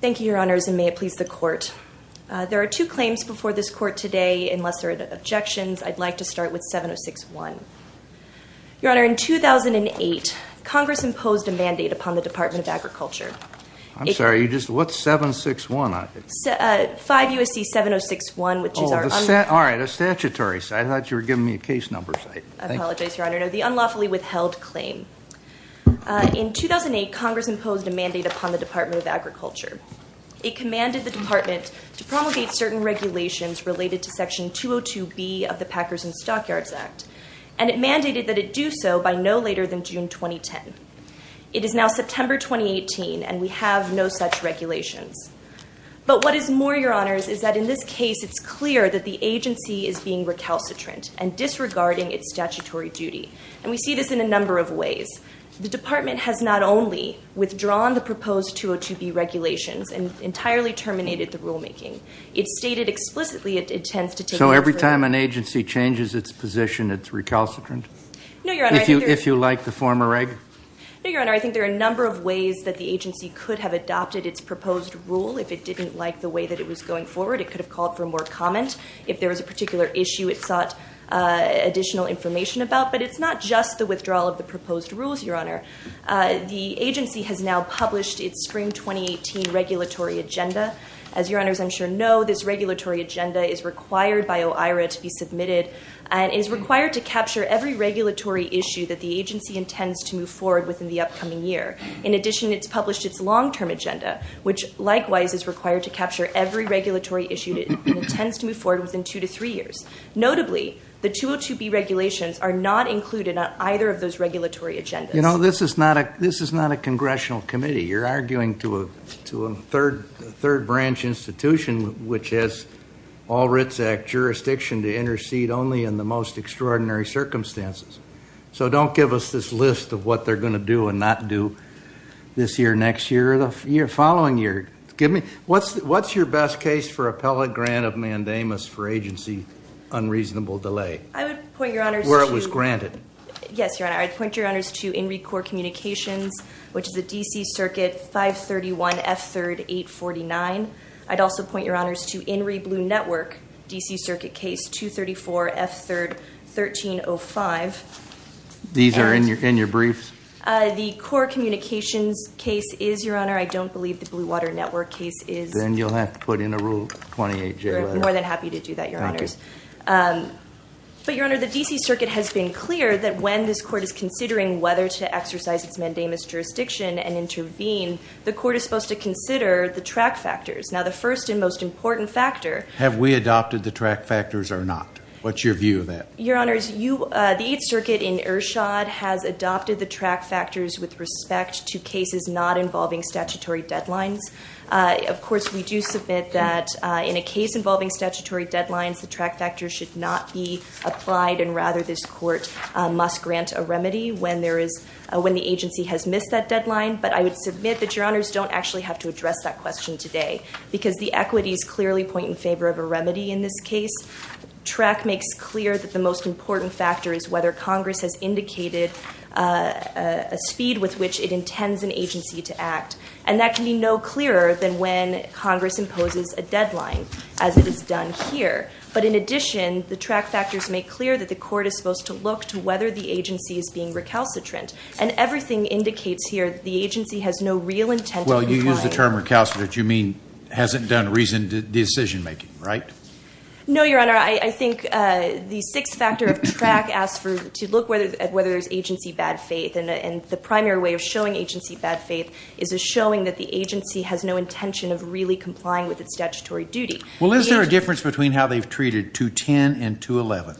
Thank you, Your Honors, and may it please the Court. There are two claims before this Court today. Unless there are objections, I'd like to start with 706-1. Your Honor, in 2008, Congress imposed a mandate upon the Department of Agriculture. I'm sorry, you just, what's 706-1? 5 U.S.C. 706-1, which is our... Oh, alright, a statutory, I thought you were giving me a case number. I apologize, Your Honor. No, the unlawfully withheld claim. In 2008, Congress imposed a mandate upon the Department of Agriculture. It commanded the Department to promulgate certain regulations related to Section 202B of the Packers and Stockyards Act, and it mandated that it do so by no later than June 2010. It is now September 2018, and we have no such regulations. But what is more, Your Honors, is that in this recalcitrant and disregarding its statutory duty. And we see this in a number of ways. The Department has not only withdrawn the proposed 202B regulations and entirely terminated the rulemaking, it stated explicitly it intends to take... So every time an agency changes its position, it's recalcitrant? No, Your Honor, I think there... If you like the former reg? No, Your Honor, I think there are a number of ways that the agency could have adopted its proposed rule. If it didn't like the way that it was going forward, it could have called for more comment. If there was a particular issue it sought additional information about. But it's not just the withdrawal of the proposed rules, Your Honor. The agency has now published its spring 2018 regulatory agenda. As Your Honors I'm sure know, this regulatory agenda is required by OIRA to be submitted and is required to capture every regulatory issue that the agency intends to move forward with in the upcoming year. In addition, it's published its long-term agenda, which likewise is required to capture every regulatory issue it intends to move forward with in two to three years. Notably, the 202B regulations are not included on either of those regulatory agendas. You know, this is not a congressional committee. You're arguing to a third branch institution, which has all writs act jurisdiction to intercede only in the most extraordinary circumstances. So don't give us this list of what they're going to do and not do this year, next year, or the following year. What's your best case for appellate grant of mandamus for agency unreasonable delay? I would point, Your Honors, to... Where it was granted. Yes, Your Honor. I'd point, Your Honors, to INRI Corps Communications, which is a DC Circuit 531F3RD849. I'd also point, Your Honors, to INRI Blue Network, DC Circuit Case 234F3RD1305. These are in your briefs? The Corps Communications case is, Your Honor. I don't believe the Blue Water Network case is. Then you'll have to put in a Rule 28J. We're more than happy to do that, Your Honors. But, Your Honor, the DC Circuit has been clear that when this Court is considering whether to exercise its mandamus jurisdiction and intervene, the Court is supposed to consider the track factors. Now, the first and most important factor... Have we adopted the track factors or not? What's your view of that? Your Honors, the Eighth Circuit in Ershad has adopted the track factors with respect to cases not involving statutory deadlines. Of course, we do submit that in a case involving statutory deadlines, the track factors should not be applied, and rather, this Court must grant a remedy when the agency has missed that deadline. But I would submit that, Your Honors, don't actually have to address that question today, because the equities clearly point in favor of a remedy in this case. Track makes clear that the most important factor is whether Congress has indicated a speed with which it intends an agency to act, and that can be no clearer than when Congress imposes a deadline, as it is done here. But in addition, the track factors make clear that the Court is supposed to look to whether the agency is being recalcitrant, and everything indicates here that the agency has no real intent of applying... decision-making, right? No, Your Honor. I think the sixth factor of track asks to look at whether there's agency bad faith, and the primary way of showing agency bad faith is showing that the agency has no intention of really complying with its statutory duty. Well, is there a difference between how they've treated 210 and 211?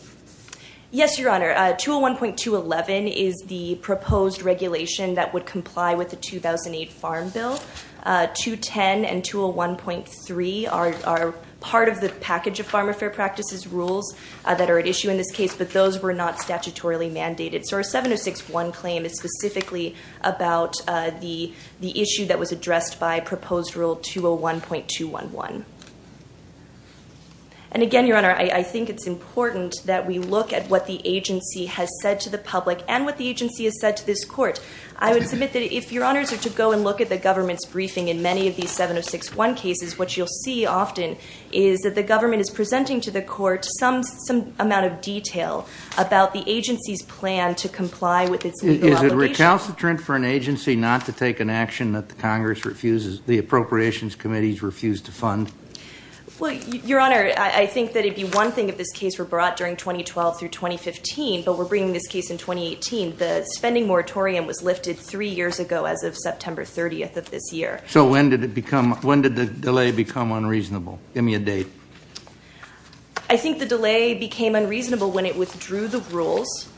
Yes, Your Honor. 201.211 is the proposed regulation that would comply with the 2008 Farm Bill. 210 and 201.3 are part of the package of farm affair practices rules that are at issue in this case, but those were not statutorily mandated. So our 706.1 claim is specifically about the issue that was addressed by proposed rule 201.211. And again, Your Honor, I think it's important that we look at what the agency has said to the public, and what the agency has said to this Court. I would submit that if Your Honors are to go and look at the government's briefing in many of these 706.1 cases, what you'll see often is that the government is presenting to the Court some amount of detail about the agency's plan to comply with its legal obligations. Is it recalcitrant for an agency not to take an action that the Congress refuses, the Appropriations Committees refuse to fund? Well, Your Honor, I think that it'd be one thing if this case were brought during 2012 through 2015, but we're bringing this case in 2018. The spending moratorium was lifted three years ago as of September 30th of this year. So when did the delay become unreasonable? Give me a date. I think the delay became unreasonable when it withdrew the rules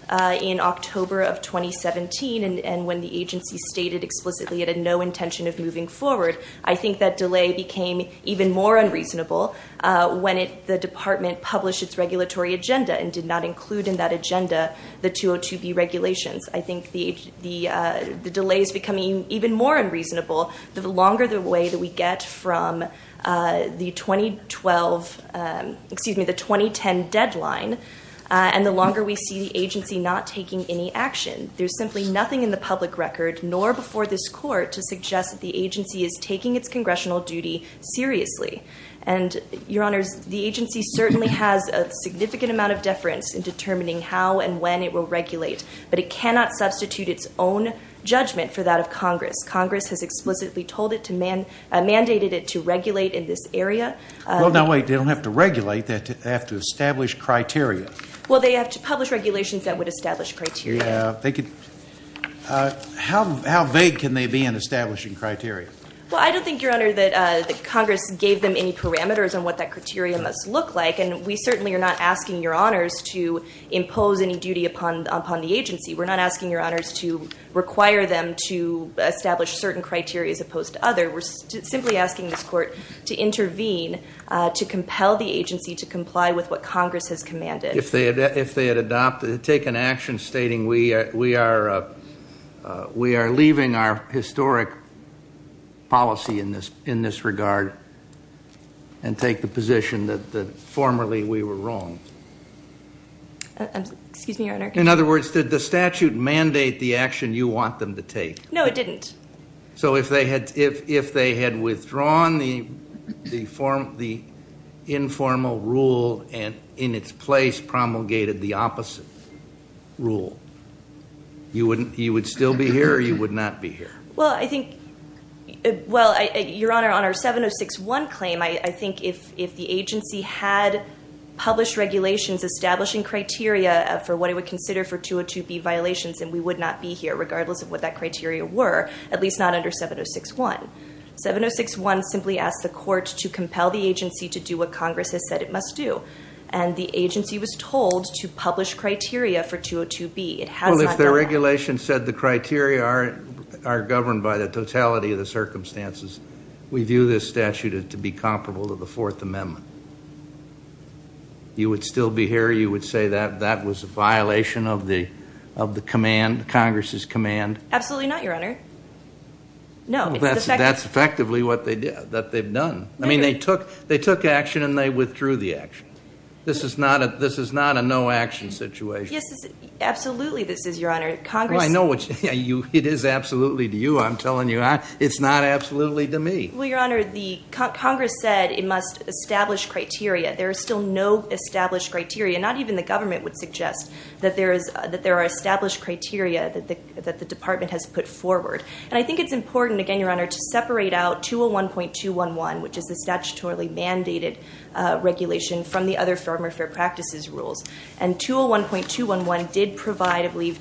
in October of 2017, and when the agency stated explicitly it had no intention of moving forward. I think that delay became even more unreasonable when the Department published its regulatory agenda and did not include in that agenda the 202B regulations. I think the delay is becoming even more unreasonable the longer the way that we get from the 2012, excuse me, the 2010 deadline, and the longer we see the agency not taking any action. There's simply nothing in the public record, nor before this Court, to suggest that the agency is taking its congressional duty seriously. And Your Honor, the agency certainly has a significant amount of deference in determining how and when it will regulate, but it cannot substitute its own judgment for that of Congress. Congress has explicitly told it to mandate it to regulate in this area. Well, now wait, they don't have to regulate. They have to establish criteria. Well, they have to publish regulations that would establish criteria. Yeah, they could. How vague can they be in establishing criteria? Well, I don't think, Your Honor, that Congress gave them any parameters on what that criteria must look like, and we certainly are not asking Your Honors to impose any duty upon the agency. We're not asking Your Honors to require them to establish certain criteria as opposed to others. We're simply asking this Court to intervene, to compel the agency to comply with what Congress has commanded. If they had adopted, taken action stating, we are leaving our historic policy in this regard and take the position that formerly we were wrong. Excuse me, Your Honor. In other words, did the statute mandate the action you want them to take? No, it didn't. So if they had withdrawn the informal rule and in its place promulgated the opposite rule, you would still be here or you would not be here? Well, I think, Your Honor, on our 706.1 claim, I think if the agency had published regulations establishing criteria for what it would consider for 202B violations, then we would not be here, regardless of what that criteria were, at least not under 706.1. 706.1 simply asked the Court to compel the agency to do what Congress has said it must do, and the agency was told to publish criteria for 202B. It has not done that. Well, if the regulation said the criteria are governed by the totality of the circumstances, we view this statute to be comparable to the Fourth Amendment. You would still be here? Or you would say that that was a violation of the command, Congress's command? Absolutely not, Your Honor. No. Well, that's effectively what they did, that they've done. I mean, they took action and they withdrew the action. This is not a no-action situation. Yes, absolutely this is, Your Honor. Congress— Well, I know it is absolutely to you. I'm telling you, it's not absolutely to me. Well, Your Honor, Congress said it must establish criteria. There are still no established criteria. Not even the government would suggest that there are established criteria that the Department has put forward. And I think it's important, again, Your Honor, to separate out 201.211, which is the statutorily mandated regulation, from the other Farmer Fair Practices Rules. And 201.211 did provide, I believe,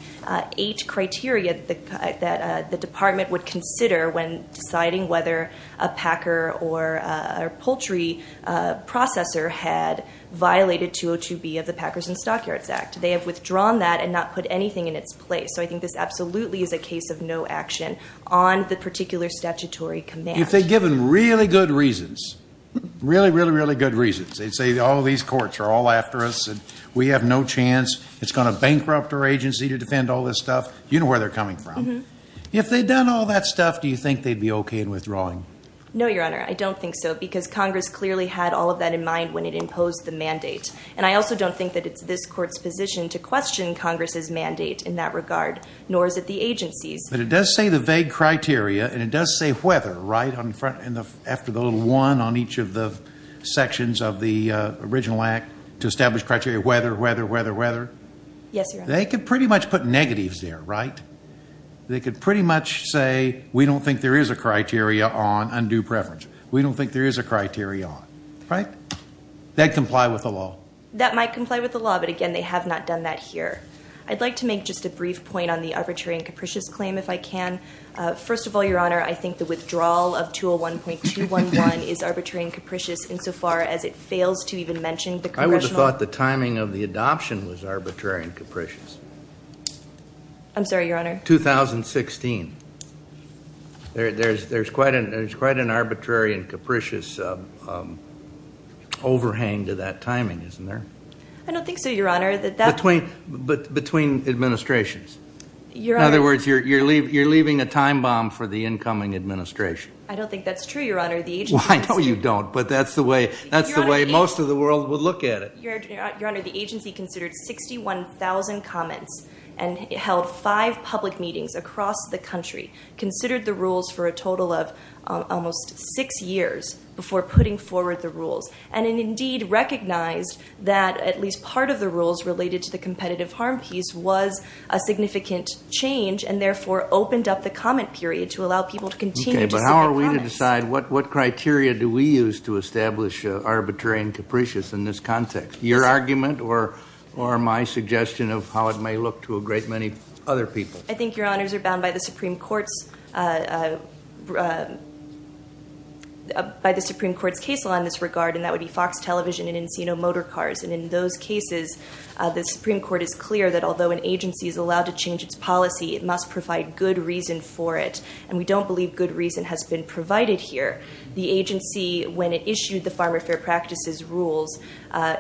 eight criteria that the Department would consider when deciding whether a packer or a poultry processor had violated 202B of the Packers and Stockyards Act. They have withdrawn that and not put anything in its place. So I think this absolutely is a case of no action on the particular statutory command. If they'd given really good reasons, really, really, really good reasons, they'd say, all these courts are all after us and we have no chance, it's going to bankrupt our agency to defend all this stuff, you know where they're coming from. If they'd done all that stuff, do you think they'd be OK in withdrawing? No, Your Honor, I don't think so, because Congress clearly had all of that in mind when it imposed the mandate. And I also don't think that it's this Court's position to question Congress's mandate in that regard, nor is it the agency's. But it does say the vague criteria, and it does say whether, right, after the little one on each of the sections of the original act, to establish criteria, whether, whether, whether, whether. Yes, Your Honor. They could pretty much put negatives there, right? They could pretty much say, we don't think there is a criteria on undue preference. We don't think there is a criteria on, right? That comply with the law. That might comply with the law, but again, they have not done that here. I'd like to make just a brief point on the arbitrary and capricious claim, if I can. First of all, Your Honor, I think the withdrawal of 201.211 is arbitrary and capricious in so far as it fails to even mention the Congressional- I'm sorry, Your Honor. 2016. There's quite an arbitrary and capricious overhang to that timing, isn't there? I don't think so, Your Honor. Between administrations. In other words, you're leaving a time bomb for the incoming administration. I don't think that's true, Your Honor. The agency- I know you don't, but that's the way most of the world would look at it. Your Honor, the agency considered 61,000 comments and held five public meetings across the country, considered the rules for a total of almost six years before putting forward the rules, and indeed recognized that at least part of the rules related to the competitive harm piece was a significant change and therefore opened up the comment period to allow people to continue to- Okay, but how are we to decide what criteria do we use to establish arbitrary and capricious in this context? Your argument or my suggestion of how it may look to a great many other people? I think, Your Honors, you're bound by the Supreme Court's case law in this regard, and that would be Fox Television and Encino Motorcars. And in those cases, the Supreme Court is clear that although an agency is allowed to change its policy, it must provide good reason for it. And we don't believe good reason has been provided here. The agency, when it issued the Farmer Fair Practices Rules,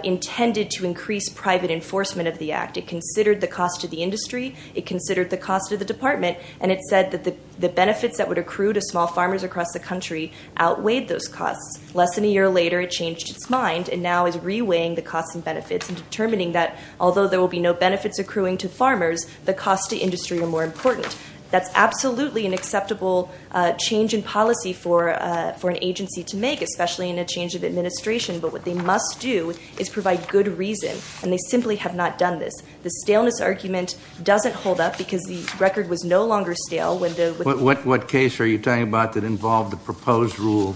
intended to increase private enforcement of the act. It considered the cost to the industry, it considered the cost to the department, and it said that the benefits that would accrue to small farmers across the country outweighed those costs. Less than a year later, it changed its mind and now is reweighing the costs and benefits and determining that although there will be no benefits accruing to farmers, the costs to industry are more important. That's absolutely an acceptable change in policy for an agency to make, especially in a change of administration. But what they must do is provide good reason, and they simply have not done this. The staleness argument doesn't hold up because the record was no longer stale. What case are you talking about that involved a proposed rule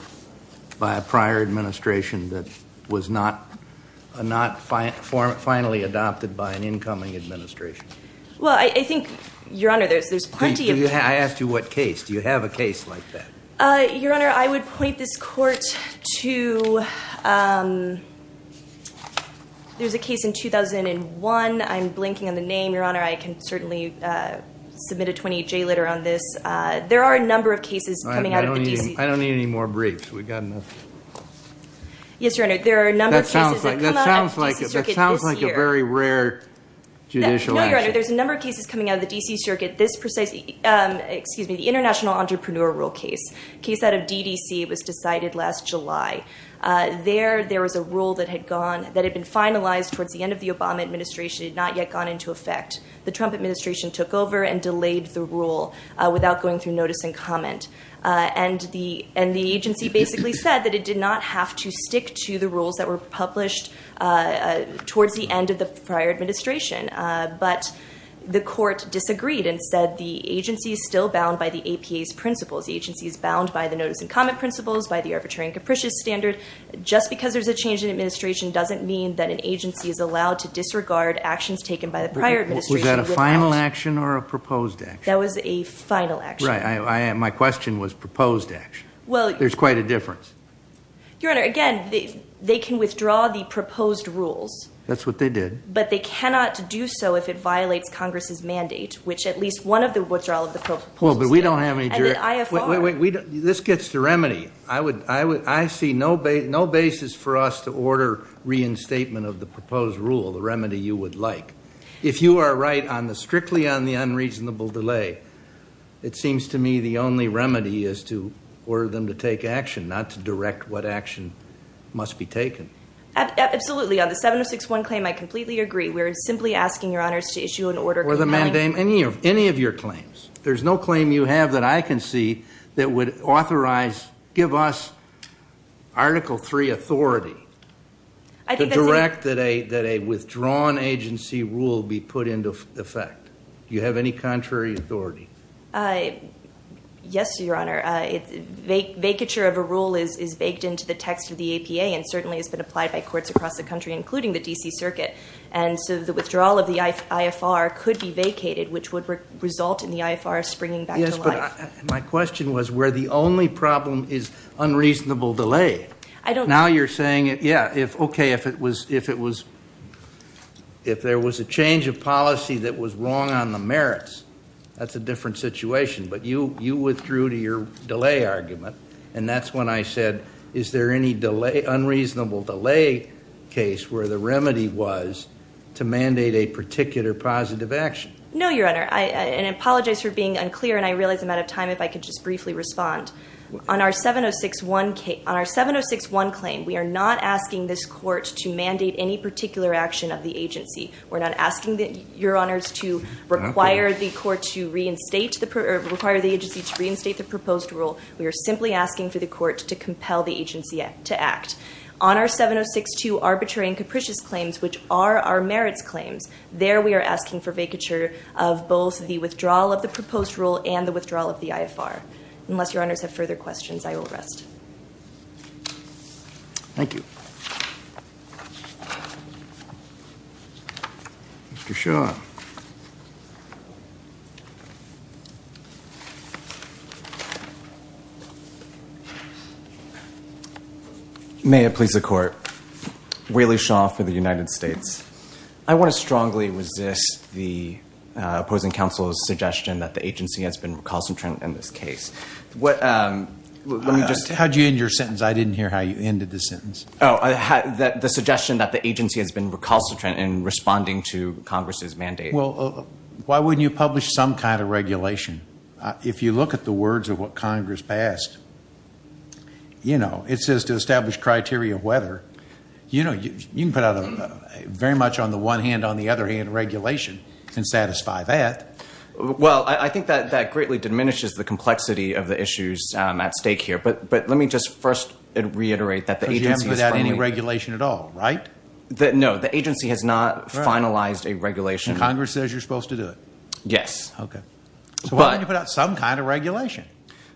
by a prior administration that was not finally adopted by an incoming administration? Well, I think, Your Honor, there's plenty of cases. I asked you what case. Do you have a case like that? Your Honor, I would point this court to there's a case in 2001. I'm blinking on the name, Your Honor. I can certainly submit a 28-J letter on this. There are a number of cases coming out of the D.C. I don't need any more briefs. We've got enough. Yes, Your Honor, there are a number of cases that come out of the D.C. Circuit this year. This is a very rare judicial action. No, Your Honor, there's a number of cases coming out of the D.C. Circuit. This precisely, excuse me, the International Entrepreneur Rule case, a case out of D.D.C., was decided last July. There, there was a rule that had been finalized towards the end of the Obama administration. It had not yet gone into effect. The Trump administration took over and delayed the rule without going through notice and comment. And the agency basically said that it did not have to stick to the rules that were published towards the end of the prior administration. But the court disagreed and said the agency is still bound by the APA's principles. The agency is bound by the notice and comment principles, by the arbitrary and capricious standard. Just because there's a change in administration doesn't mean that an agency is allowed to disregard actions taken by the prior administration. Was that a final action or a proposed action? That was a final action. Right. My question was proposed action. There's quite a difference. Your Honor, again, they can withdraw the proposed rules. That's what they did. But they cannot do so if it violates Congress's mandate, which at least one of the withdrawals of the proposed rules did. Well, but we don't have any direct... And the IFR... Wait, wait, wait, this gets to remedy. I see no basis for us to order reinstatement of the proposed rule, the remedy you would like. If you are right strictly on the unreasonable delay, it seems to me the only remedy is to order them to take action, not to direct what action must be taken. Absolutely. On the 706.1 claim, I completely agree. We're simply asking, Your Honors, to issue an order containing... Any of your claims. There's no claim you have that I can see that would authorize, give us Article III authority to direct that a withdrawn agency rule be put into effect. Do you have any contrary authority? Yes, Your Honor. Vacature of a rule is baked into the text of the APA and certainly has been applied by courts across the country, including the D.C. Circuit. And so the withdrawal of the IFR could be vacated, which would result in the IFR springing back to life. Yes, but my question was where the only problem is unreasonable delay. I don't... Now you're saying, yeah, okay, if there was a change of policy that was wrong on the merits, that's a different situation, but you withdrew to your delay argument, and that's when I said is there any unreasonable delay case where the remedy was to mandate a particular positive action? No, Your Honor, and I apologize for being unclear, and I realize I'm out of time if I could just briefly respond. On our 706-1 claim, we are not asking this court to mandate any particular action of the agency. We're not asking, Your Honors, to require the agency to reinstate the proposed rule. We are simply asking for the court to compel the agency to act. On our 706-2 arbitrary and capricious claims, which are our merits claims, there we are asking for vacature of both the withdrawal of the proposed rule and the withdrawal of the IFR. Unless Your Honors have further questions, I will rest. Thank you. Mr. Shaw. May it please the court. Whaley Shaw for the United States. I want to strongly resist the opposing counsel's suggestion that the agency has been recalcitrant in this case. How did you end your sentence? I didn't hear how you ended the sentence. The suggestion that the agency has been recalcitrant in responding to Congress's mandate. Well, why wouldn't you publish some kind of regulation? If you look at the words of what Congress passed, you know, it says to establish criteria of whether. You know, you can put out very much on the one hand, on the other hand, regulation and satisfy that. Well, I think that that greatly diminishes the complexity of the issues at stake here. But let me just first reiterate that the agency is firmly. Because you haven't put out any regulation at all, right? No, the agency has not finalized a regulation. Congress says you're supposed to do it. Yes. Okay. So why wouldn't you put out some kind of regulation?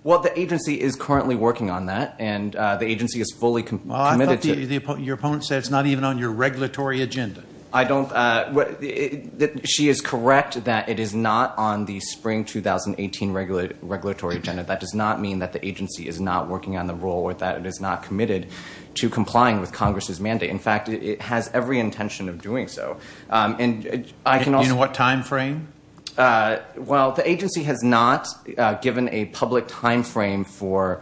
Well, the agency is currently working on that, and the agency is fully committed to. Your opponent said it's not even on your regulatory agenda. I don't. She is correct that it is not on the spring 2018 regulatory agenda. That does not mean that the agency is not working on the rule or that it is not committed to complying with Congress's mandate. In fact, it has every intention of doing so. And I can also. In what time frame? Well, the agency has not given a public time frame for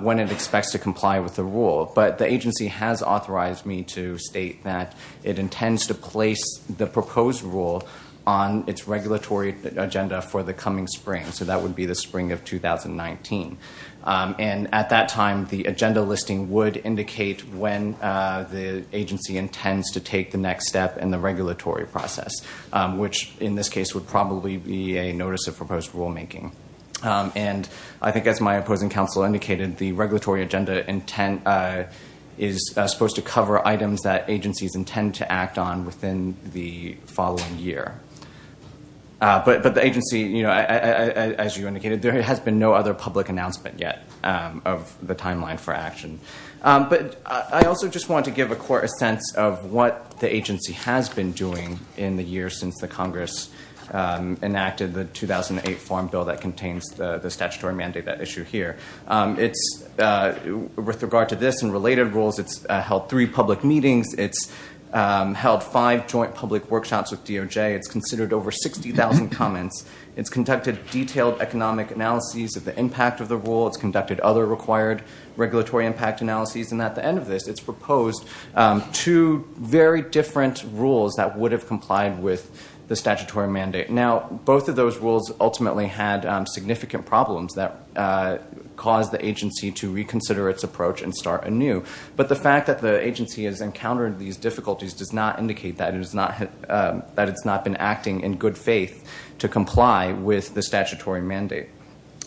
when it expects to comply with the rule. But the agency has authorized me to state that it intends to place the proposed rule on its regulatory agenda for the coming spring. So that would be the spring of 2019. And at that time, the agenda listing would indicate when the agency intends to take the next step in the regulatory process. Which, in this case, would probably be a notice of proposed rulemaking. And I think, as my opposing counsel indicated, the regulatory agenda is supposed to cover items that agencies intend to act on within the following year. But the agency, as you indicated, there has been no other public announcement yet of the timeline for action. But I also just want to give a court a sense of what the agency has been doing in the years since the Congress enacted the 2008 Farm Bill that contains the statutory mandate issue here. With regard to this and related rules, it's held three public meetings. It's held five joint public workshops with DOJ. It's considered over 60,000 comments. It's conducted detailed economic analyses of the impact of the rule. It's conducted other required regulatory impact analyses. And at the end of this, it's proposed two very different rules that would have complied with the statutory mandate. Now, both of those rules ultimately had significant problems that caused the agency to reconsider its approach and start anew. But the fact that the agency has encountered these difficulties does not indicate that it's not been acting in good faith to comply with the statutory mandate.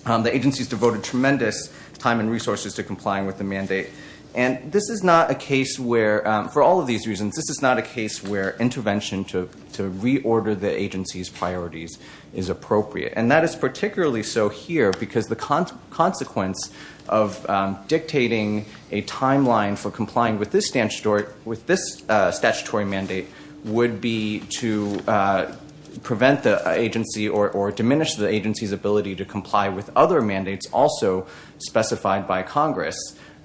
The agency has devoted tremendous time and resources to complying with the mandate. And this is not a case where, for all of these reasons, this is not a case where intervention to reorder the agency's priorities is appropriate. And that is particularly so here because the consequence of dictating a timeline for complying with this statutory mandate would be to prevent the agency or diminish the agency's ability to comply with other mandates also specified by Congress.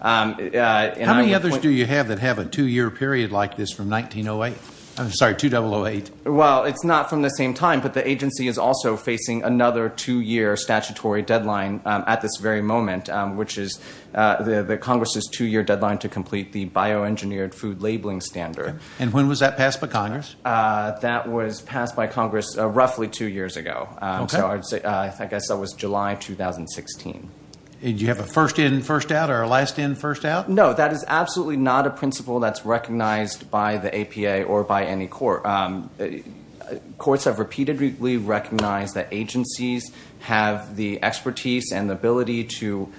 How many others do you have that have a two-year period like this from 1908? I'm sorry, 2008. Well, it's not from the same time, but the agency is also facing another two-year statutory deadline at this very moment, which is the Congress's two-year deadline to complete the bioengineered food labeling standard. And when was that passed by Congress? That was passed by Congress roughly two years ago. Okay. So I guess that was July 2016. Did you have a first in, first out, or a last in, first out? No, that is absolutely not a principle that's recognized by the APA or by any court. Courts have repeatedly recognized that agencies have the expertise and the ability to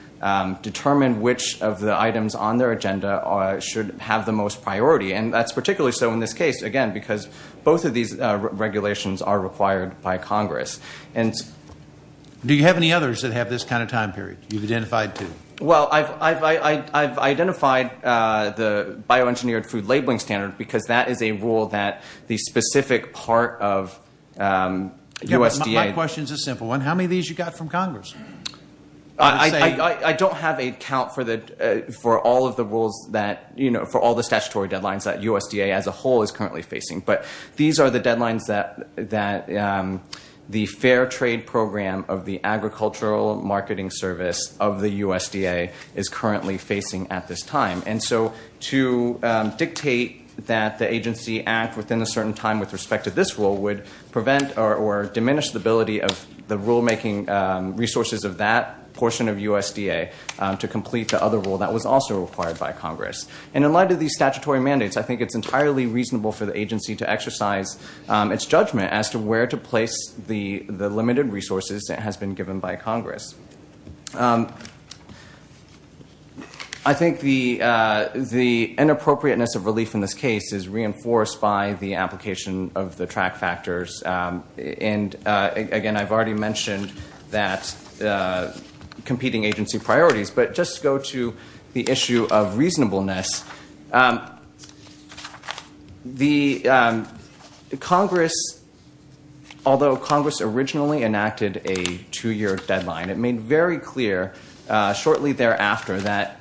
determine which of the items on their agenda should have the most priority. And that's particularly so in this case, again, because both of these regulations are required by Congress. Do you have any others that have this kind of time period you've identified, too? Well, I've identified the bioengineered food labeling standard because that is a rule that the specific part of USDA. My question is a simple one. How many of these you got from Congress? I don't have a count for all of the rules that, you know, for all the statutory deadlines that USDA as a whole is currently facing. But these are the deadlines that the Fair Trade Program of the Agricultural Marketing Service of the USDA is currently facing at this time. And so to dictate that the agency act within a certain time with respect to this rule would prevent or diminish the ability of the rulemaking resources of that portion of USDA to complete the other rule that was also required by Congress. And in light of these statutory mandates, I think it's entirely reasonable for the agency to exercise its judgment as to where to place the limited resources that has been given by Congress. I think the inappropriateness of relief in this case is reinforced by the application of the track factors. And, again, I've already mentioned that competing agency priorities. But just to go to the issue of reasonableness, the Congress, although Congress originally enacted a two-year deadline, it made very clear shortly thereafter that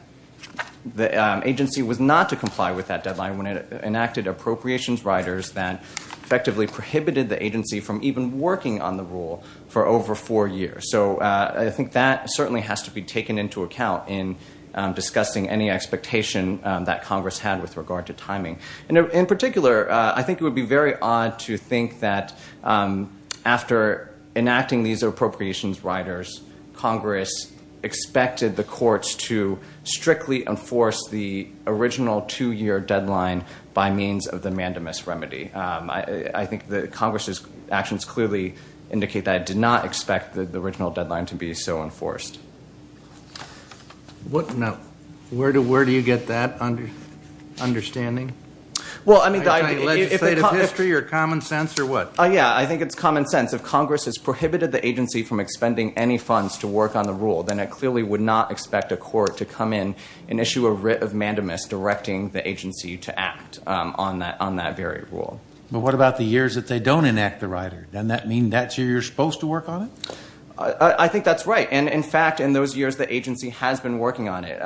the agency was not to comply with that deadline when it enacted appropriations riders that effectively prohibited the agency from even working on the rule for over four years. So I think that certainly has to be taken into account in discussing any expectation that Congress had with regard to timing. And in particular, I think it would be very odd to think that after enacting these appropriations riders, Congress expected the courts to strictly enforce the original two-year deadline by means of the mandamus remedy. I think that Congress's actions clearly indicate that it did not expect the original deadline to be so enforced. Now, where do you get that understanding? Are you talking legislative history or common sense or what? Yeah, I think it's common sense. If Congress has prohibited the agency from expending any funds to work on the rule, then it clearly would not expect a court to come in and issue a writ of mandamus directing the agency to act on that very rule. But what about the years that they don't enact the rider? Doesn't that mean that's where you're supposed to work on it? I think that's right. And, in fact, in those years, the agency has been working on it.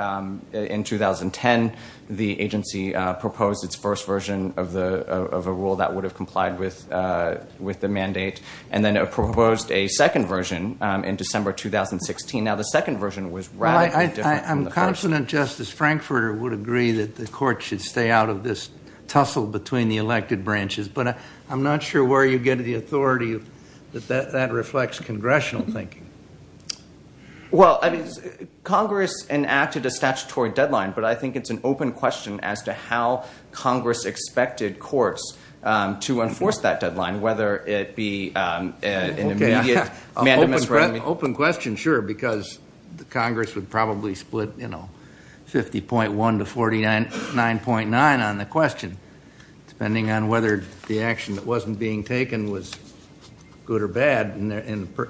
In 2010, the agency proposed its first version of a rule that would have complied with the mandate and then proposed a second version in December 2016. Now, the second version was radically different from the first. Well, I'm confident Justice Frankfurter would agree that the court should stay out of this tussle between the elected branches, but I'm not sure where you get the authority that that reflects congressional thinking. Well, I mean, Congress enacted a statutory deadline, but I think it's an open question as to how Congress expected courts to enforce that deadline, whether it be an immediate mandamus. Open question, sure, because Congress would probably split 50.1 to 49.9 on the question, depending on whether the action that wasn't being taken was good or bad in the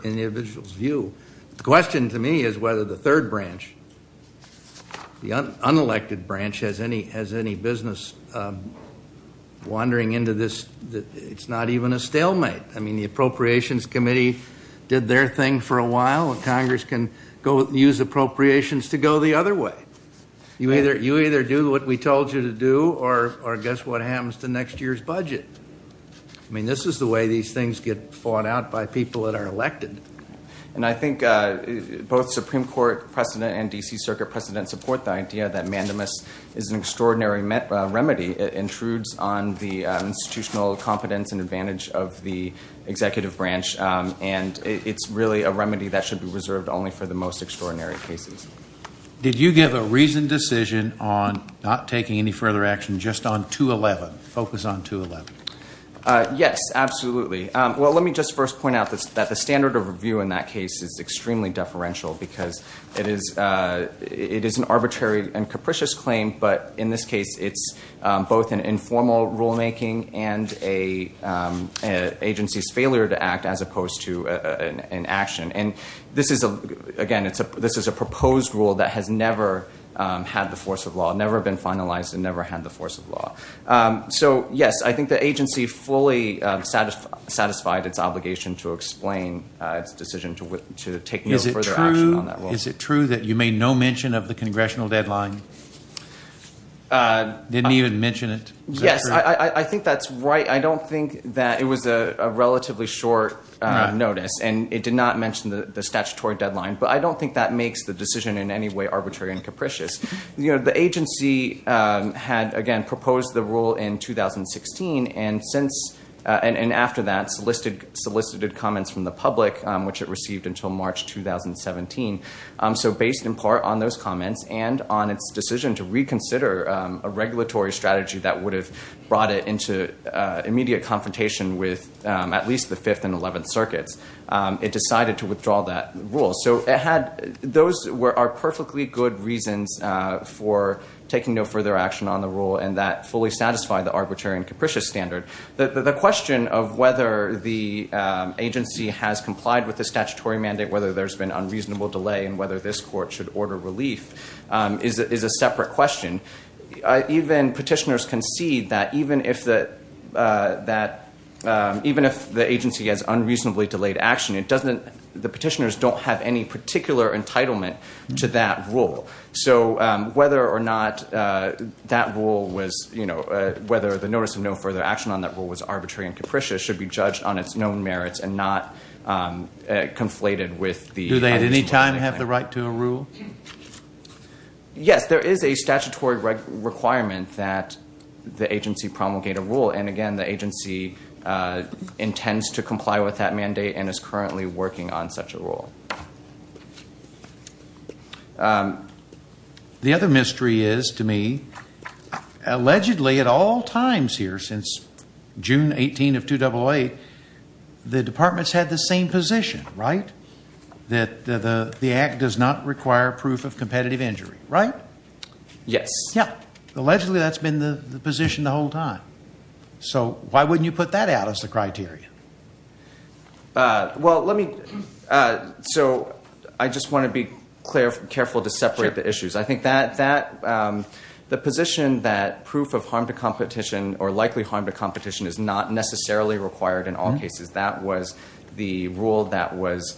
individual's view. The question to me is whether the third branch, the unelected branch, has any business wandering into this. It's not even a stalemate. I mean, the Appropriations Committee did their thing for a while, and Congress can use appropriations to go the other way. You either do what we told you to do, or guess what happens to next year's budget. I mean, this is the way these things get fought out by people that are elected. And I think both Supreme Court precedent and D.C. Circuit precedent support the idea that mandamus is an extraordinary remedy. It intrudes on the institutional confidence and advantage of the executive branch, and it's really a remedy that should be reserved only for the most extraordinary cases. Did you give a reasoned decision on not taking any further action just on 211, focus on 211? Yes, absolutely. Well, let me just first point out that the standard of review in that case is extremely deferential because it is an arbitrary and capricious claim, but in this case, it's both an informal rulemaking and an agency's failure to act as opposed to an action. And this is, again, this is a proposed rule that has never had the force of law, never been finalized and never had the force of law. So, yes, I think the agency fully satisfied its obligation to explain its decision to take no further action on that rule. Is it true that you made no mention of the congressional deadline? Didn't even mention it? Yes, I think that's right. I don't think that it was a relatively short notice, and it did not mention the statutory deadline, but I don't think that makes the decision in any way arbitrary and capricious. The agency had, again, proposed the rule in 2016, and after that solicited comments from the public, which it received until March 2017. So based in part on those comments and on its decision to reconsider a regulatory strategy that would have brought it into immediate confrontation with at least the 5th and 11th circuits, it decided to withdraw that rule. So those are perfectly good reasons for taking no further action on the rule, and that fully satisfied the arbitrary and capricious standard. The question of whether the agency has complied with the statutory mandate, whether there's been unreasonable delay, and whether this court should order relief is a separate question. Even petitioners concede that even if the agency has unreasonably delayed action, the petitioners don't have any particular entitlement to that rule. So whether or not that rule was, you know, whether the notice of no further action on that rule was arbitrary and capricious should be judged on its known merits and not conflated with the... Do they at any time have the right to a rule? Yes, there is a statutory requirement that the agency promulgate a rule, and again the agency intends to comply with that mandate and is currently working on such a rule. The other mystery is, to me, allegedly at all times here since June 18 of 2008, the departments had the same position, right? That the act does not require proof of competitive injury, right? Yes. Yeah. Allegedly that's been the position the whole time. So why wouldn't you put that out as the criteria? Well, let me... So I just want to be careful to separate the issues. I think that the position that proof of harm to competition or likely harm to competition is not necessarily required in all cases. That was the rule that was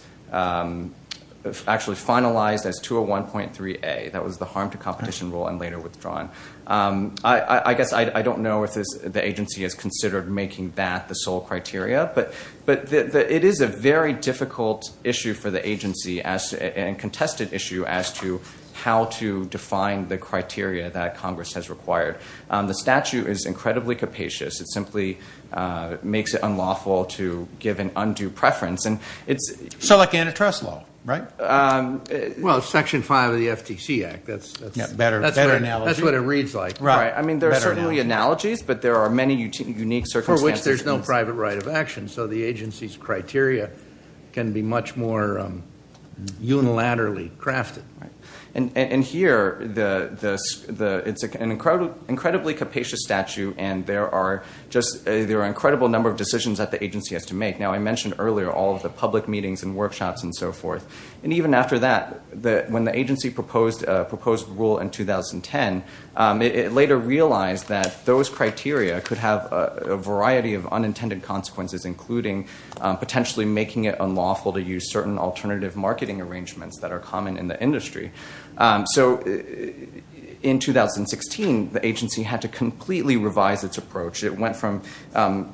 actually finalized as 201.3A. That was the harm to competition rule and later withdrawn. I guess I don't know if the agency has considered making that the sole criteria, but it is a very difficult issue for the agency and contested issue as to how to define the criteria that Congress has required. The statute is incredibly capacious. It simply makes it unlawful to give an undue preference. So like antitrust law, right? Well, it's Section 5 of the FTC Act. That's what it reads like. I mean, there are certainly analogies, but there are many unique circumstances. For which there's no private right of action, so the agency's criteria can be much more unilaterally crafted. And here, it's an incredibly capacious statute, and there are an incredible number of decisions that the agency has to make. Now, I mentioned earlier all of the public meetings and workshops and so forth. And even after that, when the agency proposed the rule in 2010, it later realized that those criteria could have a variety of unintended consequences, including potentially making it unlawful to use certain alternative marketing arrangements that are common in the industry. So in 2016, the agency had to completely revise its approach. It went from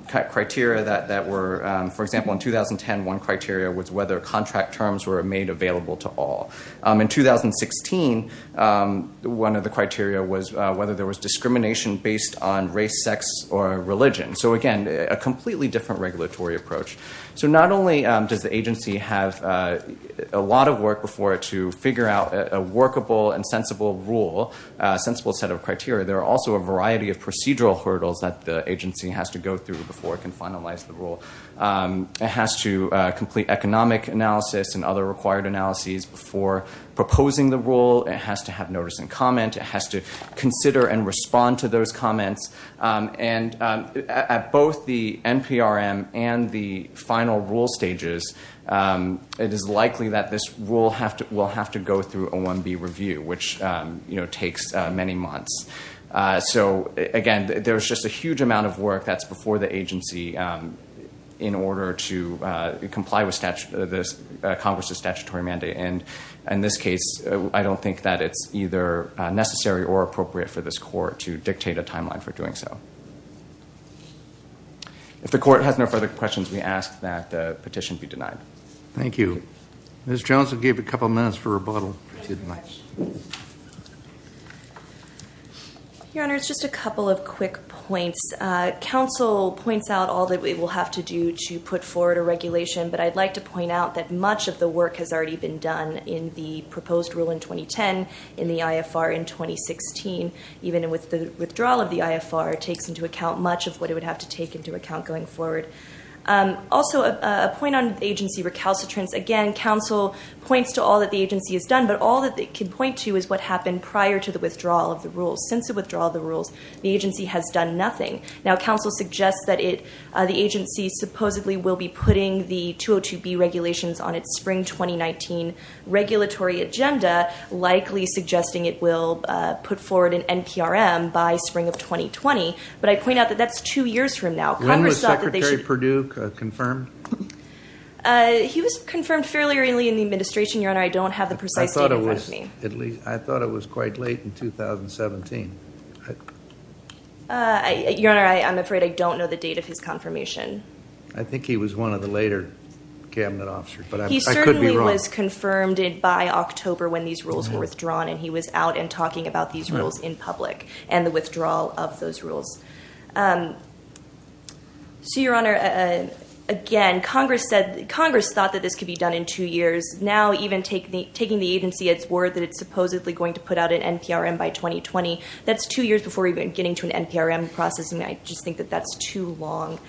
criteria that were, for example, in 2010, one criteria was whether contract terms were made available to all. In 2016, one of the criteria was whether there was discrimination based on race, sex, or religion. So again, a completely different regulatory approach. So not only does the agency have a lot of work before it to figure out a workable and sensible rule, a sensible set of criteria, there are also a variety of procedural hurdles that the agency has to go through before it can finalize the rule. It has to complete economic analysis and other required analyses before proposing the rule. It has to have notice and comment. It has to consider and respond to those comments. And at both the NPRM and the final rule stages, it is likely that this rule will have to go through a 1B review, which takes many months. So again, there's just a huge amount of work that's before the agency in order to comply with Congress's statutory mandate. And in this case, I don't think that it's either necessary or appropriate for this court to dictate a timeline for doing so. If the court has no further questions, we ask that the petition be denied. Thank you. Ms. Johnson gave a couple minutes for rebuttal. Your Honor, it's just a couple of quick points. Counsel points out all that we will have to do to put forward a regulation, but I'd like to point out that much of the work has already been done in the proposed rule in 2010, in the IFR in 2016. Even with the withdrawal of the IFR, it takes into account much of what it would have to take into account going forward. Also, a point on agency recalcitrance. Again, counsel points to all that the agency has done, but all that they can point to is what happened prior to the withdrawal of the rules. Since the withdrawal of the rules, the agency has done nothing. Now, counsel suggests that the agency supposedly will be putting the 202B regulations on its spring 2019 regulatory agenda, likely suggesting it will put forward an NPRM by spring of 2020. But I point out that that's two years from now. When was Secretary Perdue confirmed? He was confirmed fairly early in the administration, Your Honor. I don't have the precise date in front of me. I thought it was quite late in 2017. Your Honor, I'm afraid I don't know the date of his confirmation. I think he was one of the later cabinet officers, but I could be wrong. He certainly was confirmed by October when these rules were withdrawn, and he was out and talking about these rules in public and the withdrawal of those rules. So, Your Honor, again, Congress thought that this could be done in two years. Now, even taking the agency at its word that it's supposedly going to put out an NPRM by 2020, that's two years before even getting to an NPRM process, and I just think that that's too long.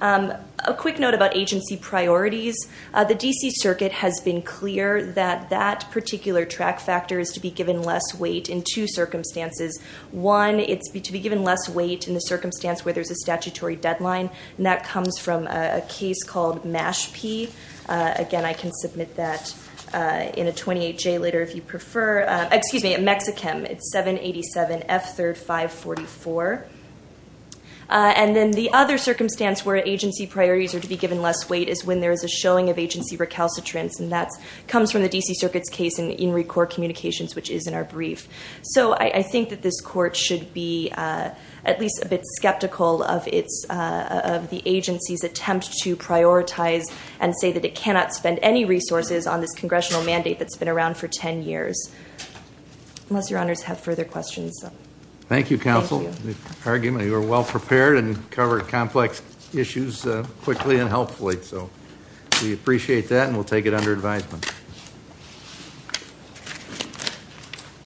A quick note about agency priorities. The D.C. Circuit has been clear that that particular track factor is to be given less weight in two circumstances. One, it's to be given less weight in the circumstance where there's a statutory deadline, and that comes from a case called Mashpee. Again, I can submit that in a 28-J later if you prefer. Excuse me, Mexichem. It's 787F3R544. And then the other circumstance where agency priorities are to be given less weight is when there is a showing of agency recalcitrance, and that comes from the D.C. Circuit's case in In Re Court Communications, which is in our brief. So I think that this court should be at least a bit skeptical of the agency's attempt to prioritize and say that it cannot spend any resources on this congressional mandate that's been around for 10 years, unless your honors have further questions. Thank you, counsel, for the argument. You were well prepared and covered complex issues quickly and helpfully, so we appreciate that, and we'll take it under advisement.